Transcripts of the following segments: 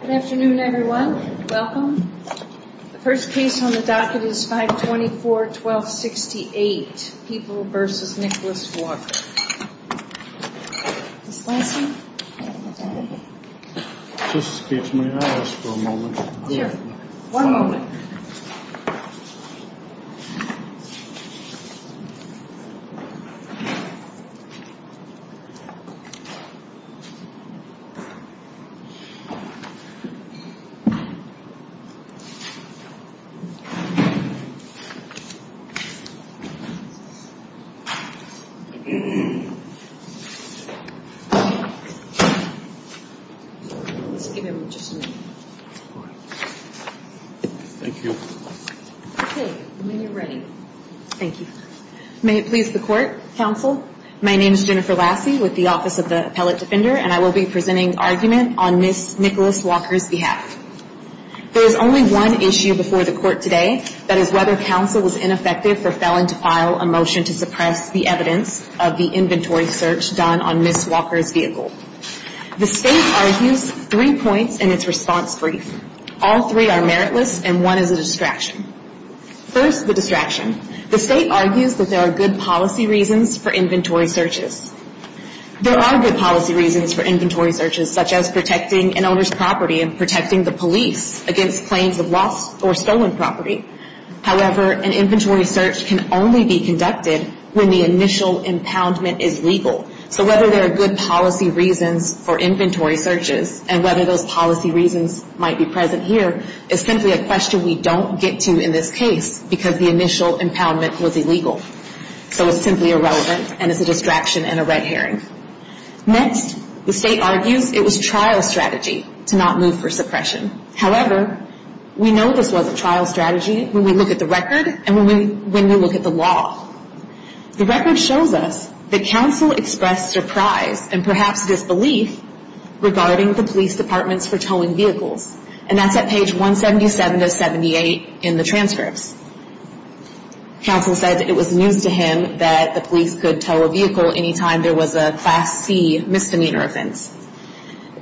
Good afternoon, everyone. Welcome. The first case on the docket is 524-1268, People v. Nicholas Walker. This case may not last for a moment. I will be presenting argument on Ms. Nicholas Walker's behalf. There is only one issue before the court today. That is whether counsel was ineffective for felon to file a motion to suppress the evidence of the incident. The state argues three points in its response brief. All three are meritless and one is a distraction. First, the distraction. The state argues that there are good policy reasons for inventory searches. There are good policy reasons for inventory searches such as protecting an owner's property and protecting the police against claims of lost or stolen property. However, an inventory search can only be conducted when the initial impoundment is legal. So whether there are good policy reasons for inventory searches and whether those policy reasons might be present here is simply a question we don't get to in this case because the initial impoundment was illegal. So it's simply irrelevant and it's a distraction and a red herring. Next, the state argues it was trial strategy to not move for suppression. However, we know this wasn't trial strategy when we look at the record and when we look at the law. The record shows us that counsel expressed surprise and perhaps disbelief regarding the police departments for towing vehicles. And that's at page 177 of 78 in the transcripts. Counsel said it was news to him that the police could tow a vehicle any time there was a Class C misdemeanor offense.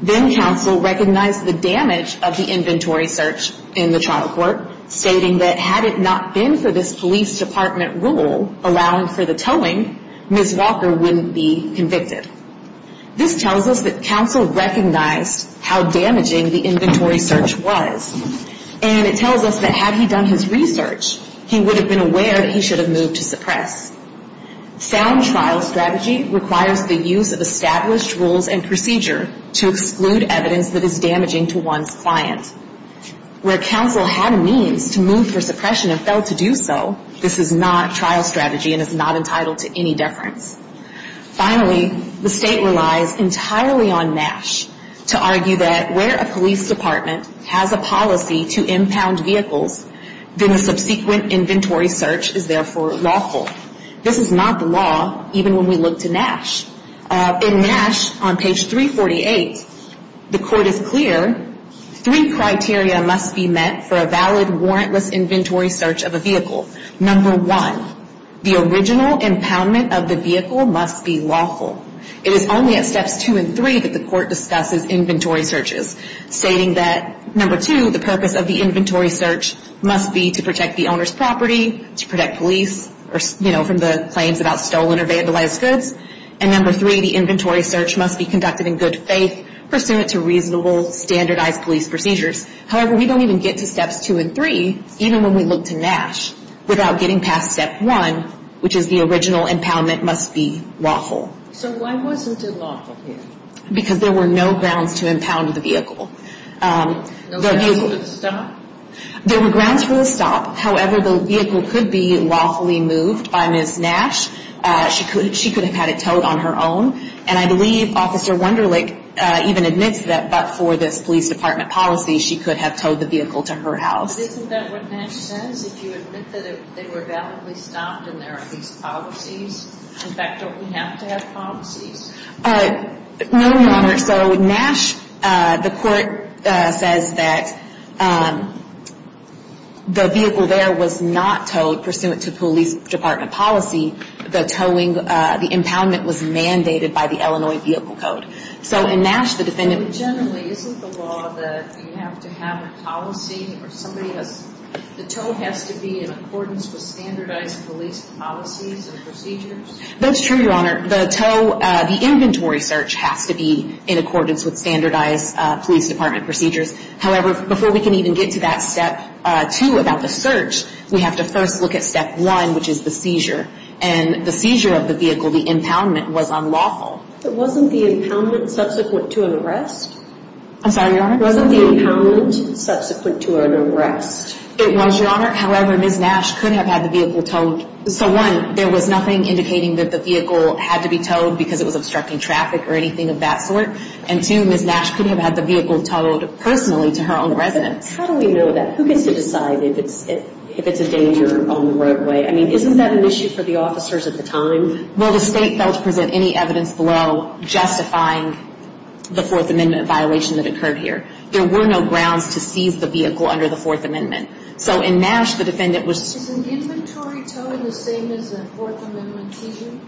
Then counsel recognized the damage of the inventory search in the trial court, stating that had it not been for this police department rule allowing for the towing, Ms. Walker wouldn't be convicted. This tells us that counsel recognized how damaging the inventory search was. And it tells us that had he done his research, he would have been aware that he should have moved to suppress. Sound trial strategy requires the use of established rules and procedure to exclude evidence that is damaging to one's client. Where counsel had means to move for suppression and failed to do so, this is not trial strategy and is not entitled to any deference. Finally, the state relies entirely on NASH to argue that where a police department has a policy to impound vehicles, then a subsequent inventory search is therefore lawful. This is not the law even when we look to NASH. In NASH, on page 348, the court is clear three criteria must be met for a valid warrantless inventory search of a vehicle. Number one, the original impoundment of the vehicle must be lawful. It is only at steps two and three that the court discusses inventory searches, stating that number two, the purpose of the inventory search must be to protect the owner's property, to protect police from the claims about stolen or vandalized goods. And number three, the inventory search must be conducted in good faith, pursuant to reasonable standardized police procedures. However, we don't even get to steps two and three, even when we look to NASH, without getting past step one, which is the original impoundment must be lawful. So why wasn't it lawful here? Because there were no grounds to impound the vehicle. No grounds for the stop? There were grounds for the stop. However, the vehicle could be lawfully moved by Ms. Nash. She could have had it towed on her own. And I believe Officer Wunderlich even admits that, but for this police department policy, she could have towed the vehicle to her house. But isn't that what NASH says? If you admit that they were validly stopped and there are these policies, in fact, don't we have to have policies? No, Your Honor. So NASH, the court says that the vehicle there was not towed pursuant to police department policy. The towing, the impoundment was mandated by the Illinois Vehicle Code. So in NASH, the defendant... But generally, isn't the law that you have to have a policy or somebody has, the tow has to be in accordance with standardized police policies and procedures? That's true, Your Honor. The tow, the inventory search has to be in accordance with standardized police department procedures. However, before we can even get to that step two about the search, we have to first look at step one, which is the seizure. And the seizure of the vehicle, the impoundment, was unlawful. But wasn't the impoundment subsequent to an arrest? I'm sorry, Your Honor? Wasn't the impoundment subsequent to an arrest? It was, Your Honor. However, Ms. Nash could have had the vehicle towed. So one, there was nothing indicating that the vehicle had to be towed because it was obstructing traffic or anything of that sort. And two, Ms. Nash could have had the vehicle towed personally to her own residence. How do we know that? Who gets to decide if it's a danger on the roadway? I mean, isn't that an issue for the officers at the time? Well, the state failed to present any evidence below justifying the Fourth Amendment violation that occurred here. There were no grounds to seize the vehicle under the Fourth Amendment. So in NASH, the defendant was... Isn't the inventory towing the same as the Fourth Amendment seizure?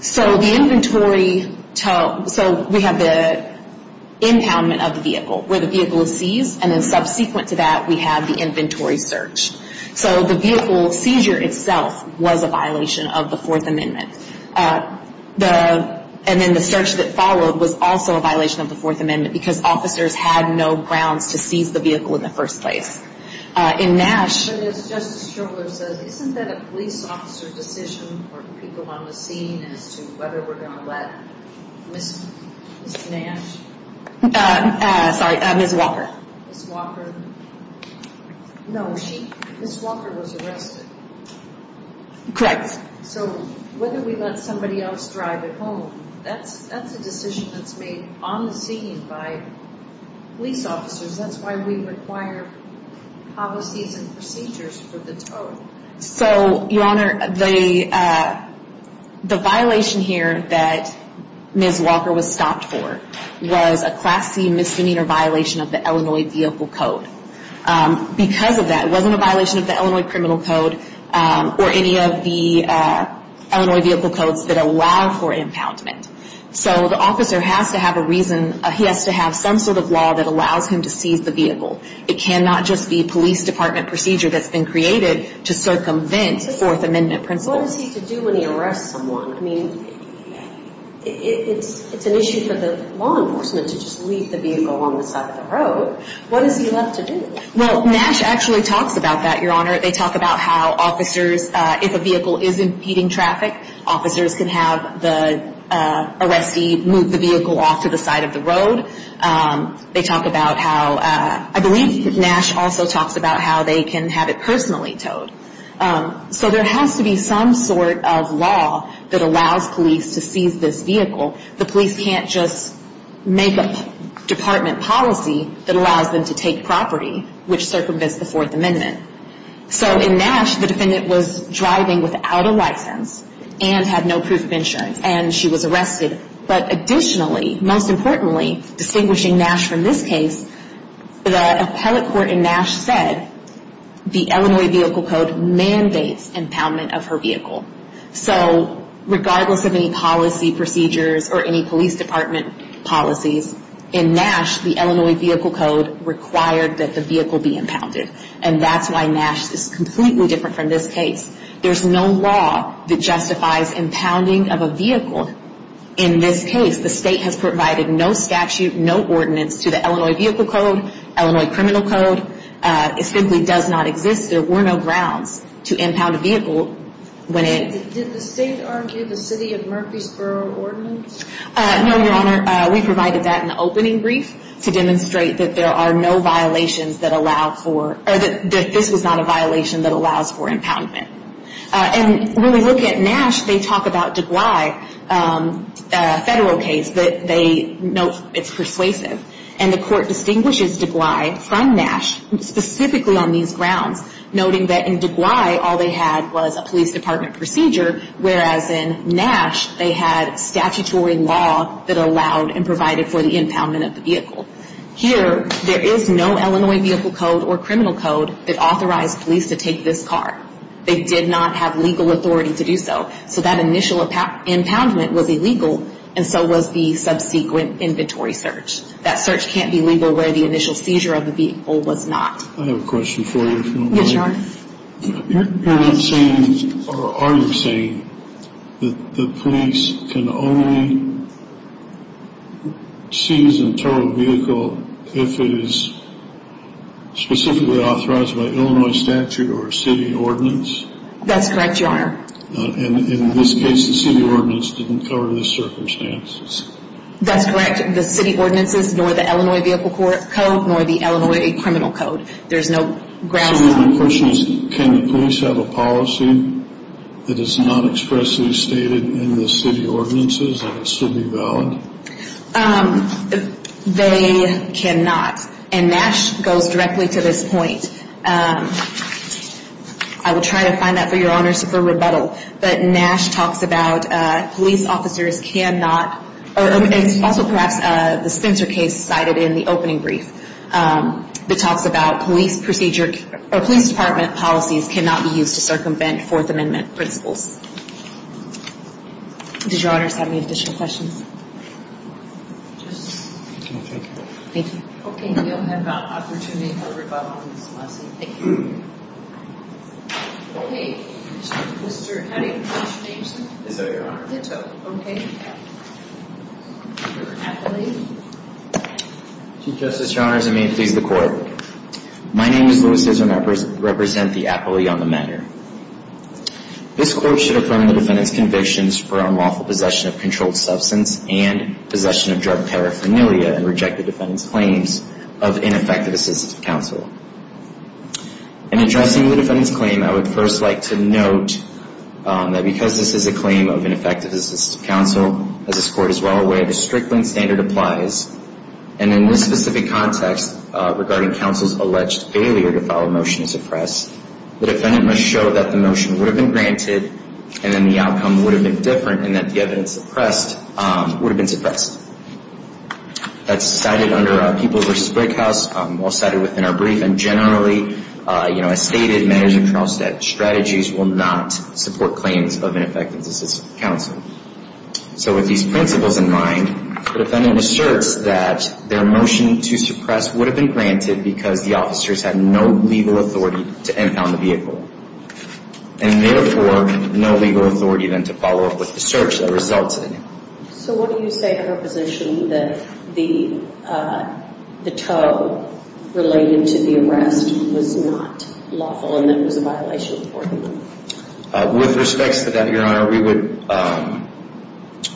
So the inventory tow, so we have the impoundment of the vehicle where the vehicle is seized. And then subsequent to that, we have the inventory search. So the vehicle seizure itself was a violation of the Fourth Amendment. And then the search that followed was also a violation of the Fourth Amendment because officers had no grounds to seize the vehicle in the first place. In NASH... But as Justice Strohler says, isn't that a police officer decision for people on the scene as to whether we're going to let Ms. Nash... Sorry, Ms. Walker. Ms. Walker. No, she... Ms. Walker was arrested. Correct. So whether we let somebody else drive it home, that's a decision that's made on the scene by police officers. That's why we require policies and procedures for the tow. So, Your Honor, the violation here that Ms. Walker was stopped for was a Class C misdemeanor violation of the Illinois Vehicle Code. Because of that, it wasn't a violation of the Illinois Criminal Code or any of the Illinois Vehicle Codes that allow for impoundment. So the officer has to have a reason. He has to have some sort of law that allows him to seize the vehicle. It cannot just be police department procedure that's been created to circumvent Fourth Amendment principles. What is he to do when he arrests someone? I mean, it's an issue for the law enforcement to just leave the vehicle on the side of the road. What does he have to do? Well, NASH actually talks about that, Your Honor. They talk about how officers, if a vehicle is impeding traffic, officers can have the arrestee move the vehicle off to the side of the road. They talk about how, I believe NASH also talks about how they can have it personally towed. So there has to be some sort of law that allows police to seize this vehicle. The police can't just make a department policy that allows them to take property, which circumvents the Fourth Amendment. So in NASH, the defendant was driving without a license and had no proof of insurance, and she was arrested. But additionally, most importantly, distinguishing NASH from this case, the appellate court in NASH said the Illinois Vehicle Code mandates impoundment of her vehicle. So regardless of any policy procedures or any police department policies, in NASH, the Illinois Vehicle Code required that the vehicle be impounded. And that's why NASH is completely different from this case. There's no law that justifies impounding of a vehicle. In this case, the state has provided no statute, no ordinance to the Illinois Vehicle Code, Illinois Criminal Code. It simply does not exist. There were no grounds to impound a vehicle when it... Did the state argue the city of Murfreesboro ordinance? No, Your Honor. We provided that in the opening brief to demonstrate that there are no violations that allow for, or that this was not a violation that allows for impoundment. And when we look at NASH, they talk about DeGuy, a federal case, that they note it's persuasive. And the court distinguishes DeGuy from NASH specifically on these grounds, noting that in DeGuy, all they had was a police department procedure, whereas in NASH, they had statutory law that allowed and provided for the impoundment of the vehicle. Here, there is no Illinois Vehicle Code or criminal code that authorized police to take this car. They did not have legal authority to do so. So that initial impoundment was illegal, and so was the subsequent inventory search. That search can't be legal where the initial seizure of the vehicle was not. I have a question for you, if you don't mind. Yes, Your Honor. You're not saying, or are you saying, that the police can only seize and tow a vehicle if it is specifically authorized by Illinois statute or city ordinance? That's correct, Your Honor. And in this case, the city ordinance didn't cover this circumstance? That's correct. The city ordinance is nor the Illinois Vehicle Code, nor the Illinois criminal code. There's no grounds on that. My question is, can the police have a policy that is not expressly stated in the city ordinances that would still be valid? They cannot. And NASH goes directly to this point. I will try to find that for Your Honor for rebuttal. But NASH talks about police officers cannot, or also perhaps the Spencer case cited in the opening brief, that talks about police procedure, or police department policies cannot be used to circumvent Fourth Amendment principles. Does Your Honor have any additional questions? No, thank you. Thank you. Okay, you'll have an opportunity for rebuttal in this lesson. Thank you. Okay, Mr. Hattie, Mr. Jameson. Yes, ma'am, Your Honor. Okay, Mr. Apley. Chief Justice Chalmers, and may it please the Court. My name is Louis Hizzard, and I represent the Apley on the matter. This Court should affirm the defendant's convictions for unlawful possession of controlled substance and possession of drug paraphernalia and reject the defendant's claims of ineffective assistance of counsel. In addressing the defendant's claim, I would first like to note that because this is a claim of ineffective assistance of counsel, as this Court is well aware, the Strickland standard applies. And in this specific context, regarding counsel's alleged failure to follow motion to suppress, the defendant must show that the motion would have been granted, and then the outcome would have been different, and that the evidence suppressed would have been suppressed. That's cited under People v. Brickhouse, well cited within our brief, and generally, you know, as stated, management trial strategies will not support claims of ineffective assistance of counsel. So with these principles in mind, the defendant asserts that their motion to suppress would have been granted because the officers had no legal authority to impound the vehicle, and therefore no legal authority then to follow up with the search that resulted in it. So what do you say to her position that the tow related to the arrest was not lawful and that it was a violation of court order? With respects to that, Your Honor,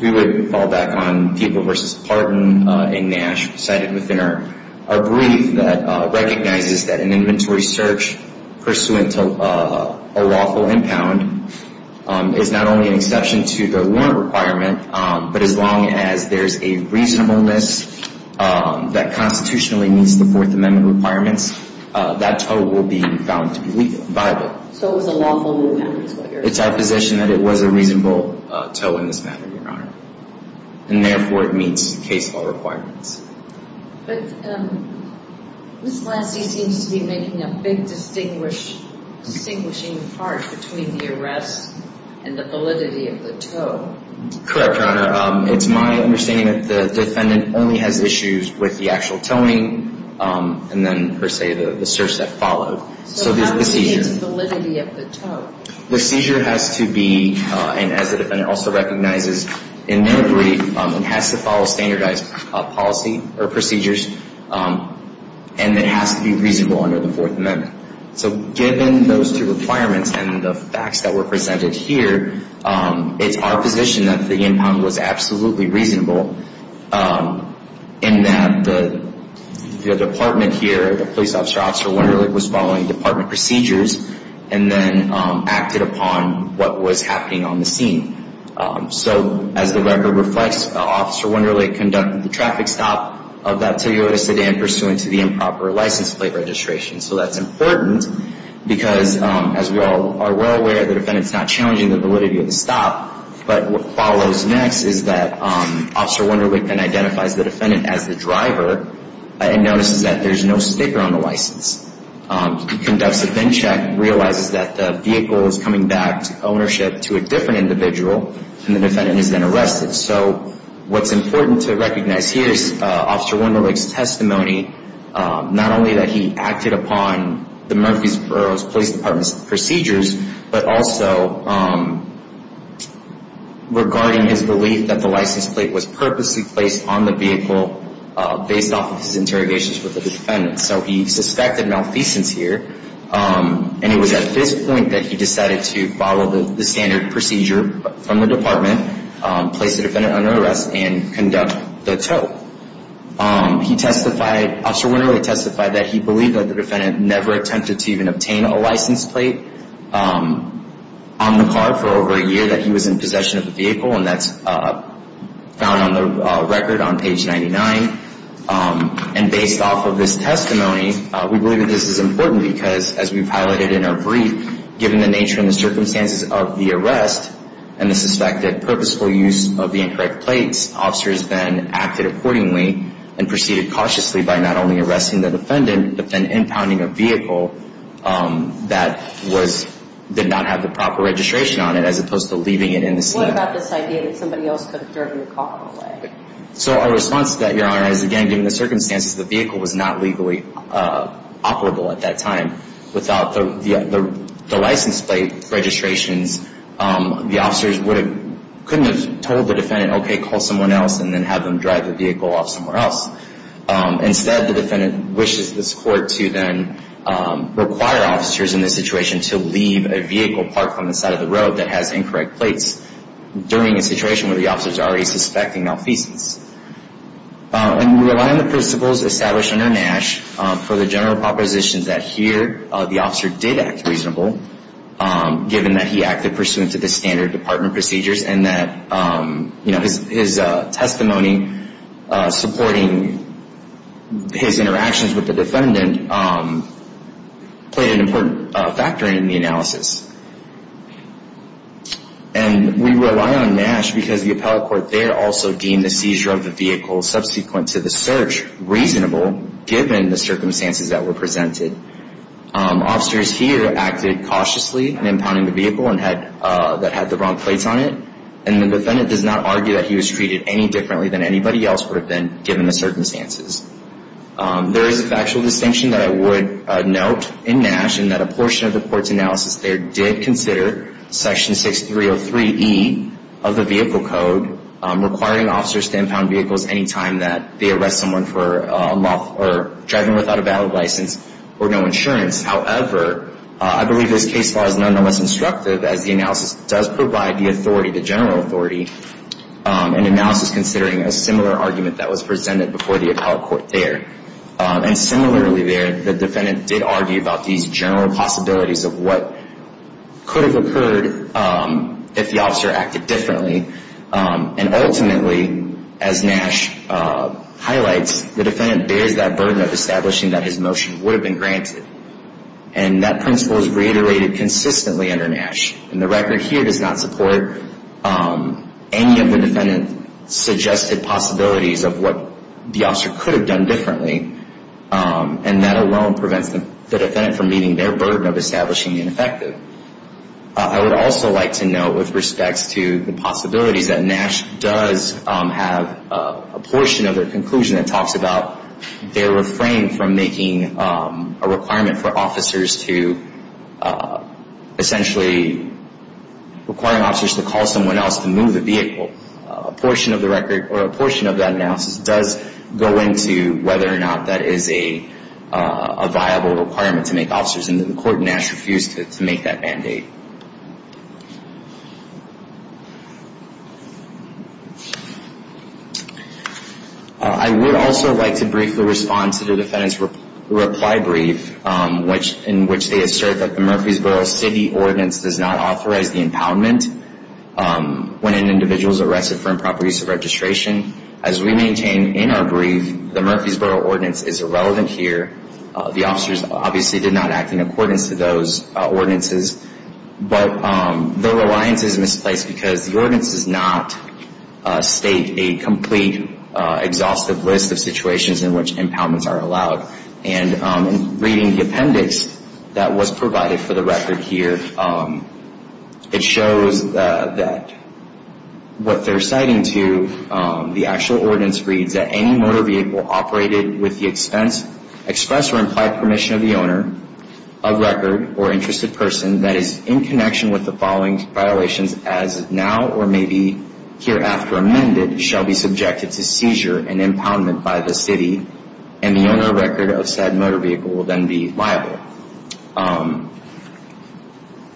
we would fall back on People v. Parton in Nash, cited within our brief, that recognizes that an inventory search pursuant to a lawful impound is not only an exception to the warrant requirement, but as long as there's a reasonableness that constitutionally meets the Fourth Amendment requirements, that tow will be found to be viable. So it was a lawful impound, is what you're saying? It's our position that it was a reasonable tow in this matter, Your Honor, and therefore it meets case law requirements. But Ms. Lassie seems to be making a big distinguishing part between the arrest and the validity of the tow. Correct, Your Honor. It's my understanding that the defendant only has issues with the actual towing and then, per se, the search that followed. So how do you get the validity of the tow? The seizure has to be, and as the defendant also recognizes in their brief, it has to follow standardized policy or procedures, and it has to be reasonable under the Fourth Amendment. So given those two requirements and the facts that were presented here, it's our position that the impound was absolutely reasonable in that the department here, the police officer, Officer Wunderlich, was following department procedures and then acted upon what was happening on the scene. So as the record reflects, Officer Wunderlich conducted the traffic stop of that Toyota sedan pursuant to the improper license plate registration. So that's important because, as we all are well aware, the defendant's not challenging the validity of the stop. But what follows next is that Officer Wunderlich then identifies the defendant as the driver and notices that there's no sticker on the license. He conducts a VIN check and realizes that the vehicle is coming back to ownership to a different individual, and the defendant is then arrested. So what's important to recognize here is Officer Wunderlich's testimony, not only that he acted upon the Murfreesboro Police Department's procedures, but also regarding his belief that the license plate was purposely placed on the vehicle based off of his interrogations with the defendant. So he suspected malfeasance here. And it was at this point that he decided to follow the standard procedure from the department, place the defendant under arrest, and conduct the tow. He testified, Officer Wunderlich testified, that he believed that the defendant never attempted to even obtain a license plate on the car for over a year, that he was in possession of the vehicle, and that's found on the record on page 99. And based off of this testimony, we believe that this is important because, as we've highlighted in our brief, given the nature and the circumstances of the arrest and the suspected purposeful use of the incorrect plates, officers then acted accordingly and proceeded cautiously by not only arresting the defendant but then impounding a vehicle that did not have the proper registration on it as opposed to leaving it in the slip. What about this idea that somebody else could have driven the car away? So our response to that, Your Honor, is, again, given the circumstances, the vehicle was not legally operable at that time. Without the license plate registrations, the officers couldn't have told the defendant, okay, call someone else and then have them drive the vehicle off somewhere else. Instead, the defendant wishes this court to then require officers in this situation to leave a vehicle parked on the side of the road that has incorrect plates during a situation where the officer is already suspecting malfeasance. And we rely on the principles established under Nash for the general propositions that, here, the officer did act reasonable, given that he acted pursuant to the standard department procedures and that his testimony supporting his interactions with the defendant played an important factor in the analysis. And we rely on Nash because the appellate court there also deemed the seizure of the vehicle subsequent to the search reasonable, given the circumstances that were presented. Officers here acted cautiously in impounding the vehicle that had the wrong plates on it, and the defendant does not argue that he was treated any differently than anybody else would have been, given the circumstances. There is a factual distinction that I would note in Nash, that a portion of the court's analysis there did consider Section 6303E of the Vehicle Code requiring officers to impound vehicles any time that they arrest someone for driving without a valid license or no insurance. However, I believe this case law is nonetheless instructive, as the analysis does provide the authority, the general authority, in analysis considering a similar argument that was presented before the appellate court there. And similarly there, the defendant did argue about these general possibilities of what could have occurred if the officer acted differently. And ultimately, as Nash highlights, the defendant bears that burden of establishing that his motion would have been granted. And that principle is reiterated consistently under Nash. And the record here does not support any of the defendant's suggested possibilities of what the officer could have done differently, and that alone prevents the defendant from meeting their burden of establishing ineffective. I would also like to note, with respect to the possibilities, that Nash does have a portion of their conclusion that talks about their refrain from making a requirement for officers to, essentially, requiring officers to call someone else to move the vehicle. A portion of that analysis does go into whether or not that is a viable requirement to make officers, and the court in Nash refused to make that mandate. I would also like to briefly respond to the defendant's reply brief, in which they assert that the Murfreesboro City Ordinance does not authorize the impoundment when an individual is arrested for improper use of registration. As we maintain in our brief, the Murfreesboro Ordinance is irrelevant here. The officers obviously did not act in accordance to those ordinances. But their reliance is misplaced because the ordinance does not state a complete, exhaustive list of situations in which impoundments are allowed. And reading the appendix that was provided for the record here, it shows that what they're citing to, the actual ordinance reads, that any motor vehicle operated with the expense, express or implied permission of the owner, of record, or interested person that is in connection with the following violations, as now or maybe hereafter amended, shall be subjected to seizure and impoundment by the city, and the owner record of said motor vehicle will then be liable.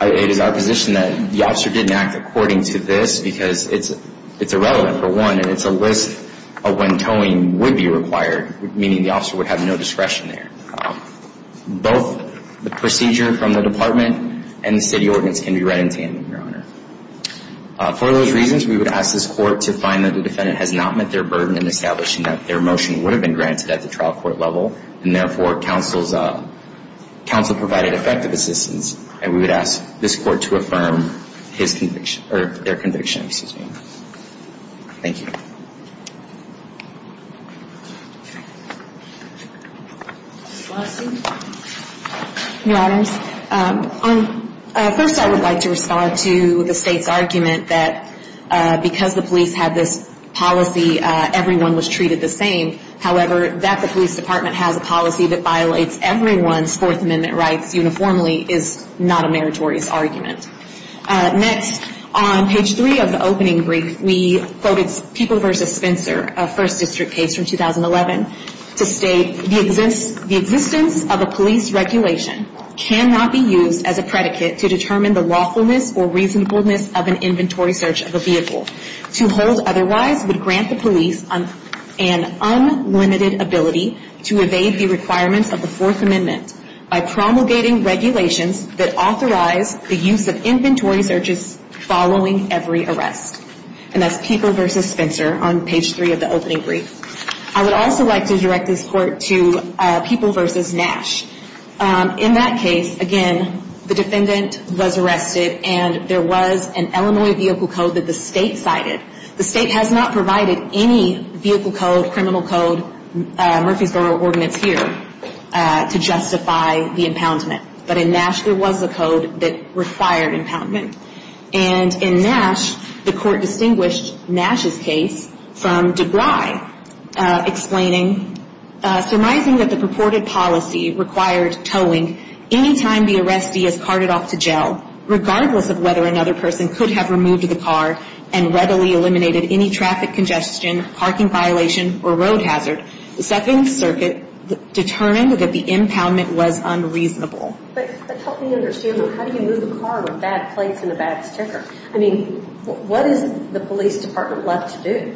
It is our position that the officer didn't act according to this because it's irrelevant, for one, and it's a list of when towing would be required, meaning the officer would have no discretion there. Both the procedure from the Department and the City Ordinance can be read in tandem, Your Honor. For those reasons, we would ask this Court to find that the defendant has not met their burden in establishing that their motion would have been granted at the trial court level, and therefore, counsel provided effective assistance, and we would ask this Court to affirm their conviction. Thank you. Your Honors, first I would like to respond to the State's argument that because the police had this policy, everyone was treated the same. However, that the police department has a policy that violates everyone's Fourth Amendment rights uniformly is not a meritorious argument. Next, on page three of the opening brief, we quoted People v. Spencer, a First District case from 2011, to state the existence of a police regulation cannot be used as a predicate to determine the lawfulness or reasonableness of an inventory search of a vehicle. To hold otherwise would grant the police an unlimited ability to evade the requirements of the Fourth Amendment by promulgating regulations that authorize the use of inventory searches following every arrest. And that's People v. Spencer on page three of the opening brief. I would also like to direct this Court to People v. Nash. In that case, again, the defendant was arrested, and there was an Illinois vehicle code that the State cited. The State has not provided any vehicle code, criminal code, Murphysboro ordinance here to justify the impoundment. But in Nash, there was a code that required impoundment. And in Nash, the Court distinguished Nash's case from DeBry explaining, surmising that the purported policy required towing any time the arrestee is carted off to jail, regardless of whether another person could have removed the car and readily eliminated any traffic congestion, parking violation, or road hazard. The Second Circuit determined that the impoundment was unreasonable. But help me understand, how do you move a car with bad plates and a bad sticker? I mean, what is the police department left to do?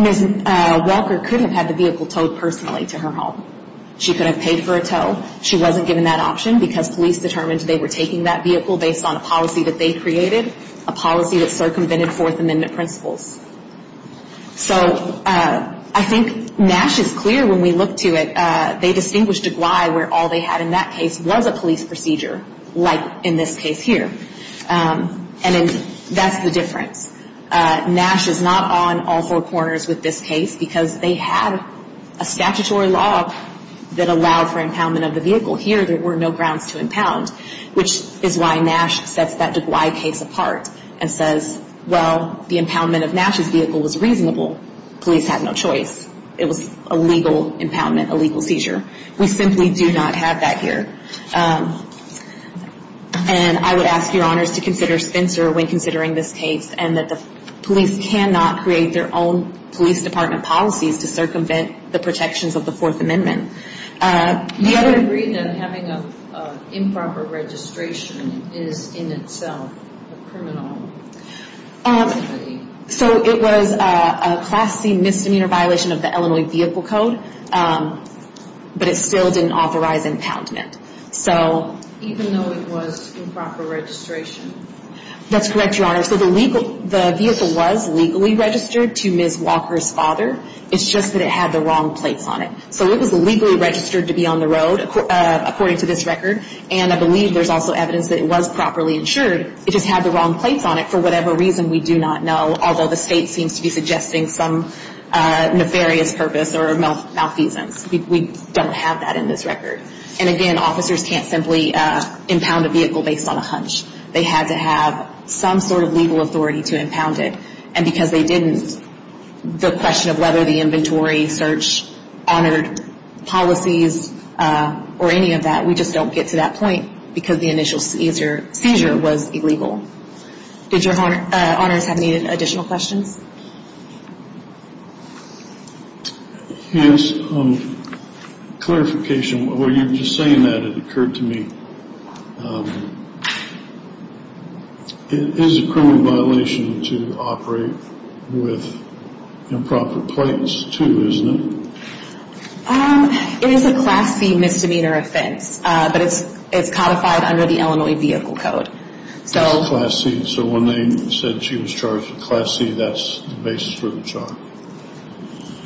Ms. Welker could have had the vehicle towed personally to her home. She could have paid for a tow. She wasn't given that option because police determined they were taking that vehicle based on a policy that they created, a policy that circumvented Fourth Amendment principles. So I think Nash is clear when we look to it. They distinguished DeBry where all they had in that case was a police procedure, like in this case here. And that's the difference. Nash is not on all four corners with this case because they had a statutory law that allowed for impoundment of the vehicle. Here, there were no grounds to impound, which is why Nash sets that DeBry case apart and says, well, the impoundment of Nash's vehicle was reasonable. Police had no choice. It was a legal impoundment, a legal seizure. We simply do not have that here. And I would ask your honors to consider Spencer when considering this case and that the police cannot create their own police department policies to circumvent the protections of the Fourth Amendment. You have agreed that having improper registration is in itself a criminal activity. So it was a Class C misdemeanor violation of the Illinois Vehicle Code, but it still didn't authorize impoundment. Even though it was improper registration? That's correct, your honors. So the vehicle was legally registered to Ms. Walker's father. It's just that it had the wrong plates on it. So it was legally registered to be on the road, according to this record, and I believe there's also evidence that it was properly insured. It just had the wrong plates on it for whatever reason we do not know, although the state seems to be suggesting some nefarious purpose or malfeasance. We don't have that in this record. And again, officers can't simply impound a vehicle based on a hunch. They had to have some sort of legal authority to impound it. And because they didn't, the question of whether the inventory search honored policies or any of that, we just don't get to that point because the initial seizure was illegal. Did your honors have any additional questions? Yes. Clarification, while you're just saying that, it occurred to me, it is a criminal violation to operate with improper plates too, isn't it? It is a Class C misdemeanor offense, but it's codified under the Illinois Vehicle Code. Class C, so when they said she was charged with Class C, that's the basis for the charge?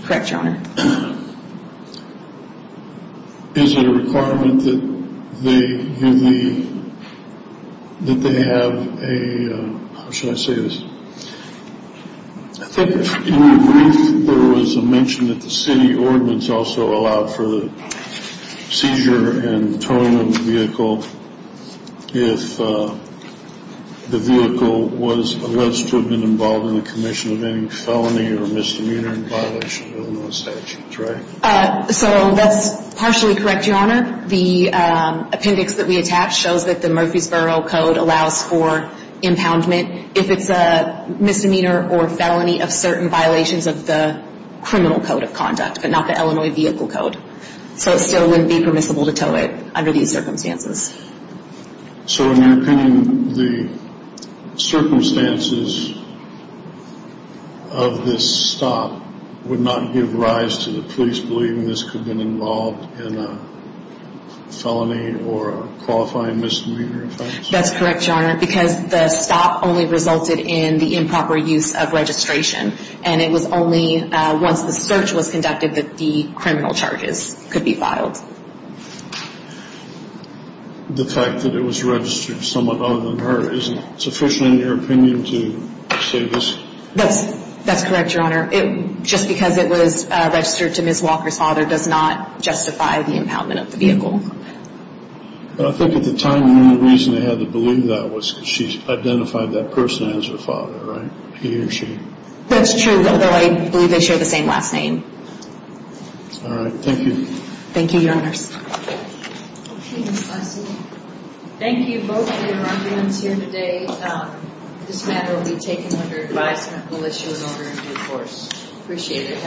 Correct, your honor. Is it a requirement that they have a, how should I say this, I think in the brief there was a mention that the city ordinance also allowed for the seizure and towing of the vehicle if the vehicle was alleged to have been involved in the commission of any felony or misdemeanor in violation of Illinois statutes, right? So that's partially correct, your honor. The appendix that we attach shows that the Murfreesboro Code allows for impoundment if it's a misdemeanor or felony of certain violations of the criminal code of conduct, but not the Illinois Vehicle Code. So it still wouldn't be permissible to tow it under these circumstances. So in your opinion, the circumstances of this stop would not give rise to the police believing this could have been involved in a felony or a qualifying misdemeanor offense? That's correct, your honor, because the stop only resulted in the improper use of registration, and it was only once the search was conducted that the criminal charges could be filed. The fact that it was registered to someone other than her isn't sufficient in your opinion to say this? That's correct, your honor. Just because it was registered to Ms. Walker's father does not justify the impoundment of the vehicle. I think at the time the only reason they had to believe that was because she identified that person as her father, right? He or she. That's true, although I believe they share the same last name. All right, thank you. Thank you, your honors. Thank you both for your arguments here today. This matter will be taken under advisement when the issue is over in due course. Appreciate it.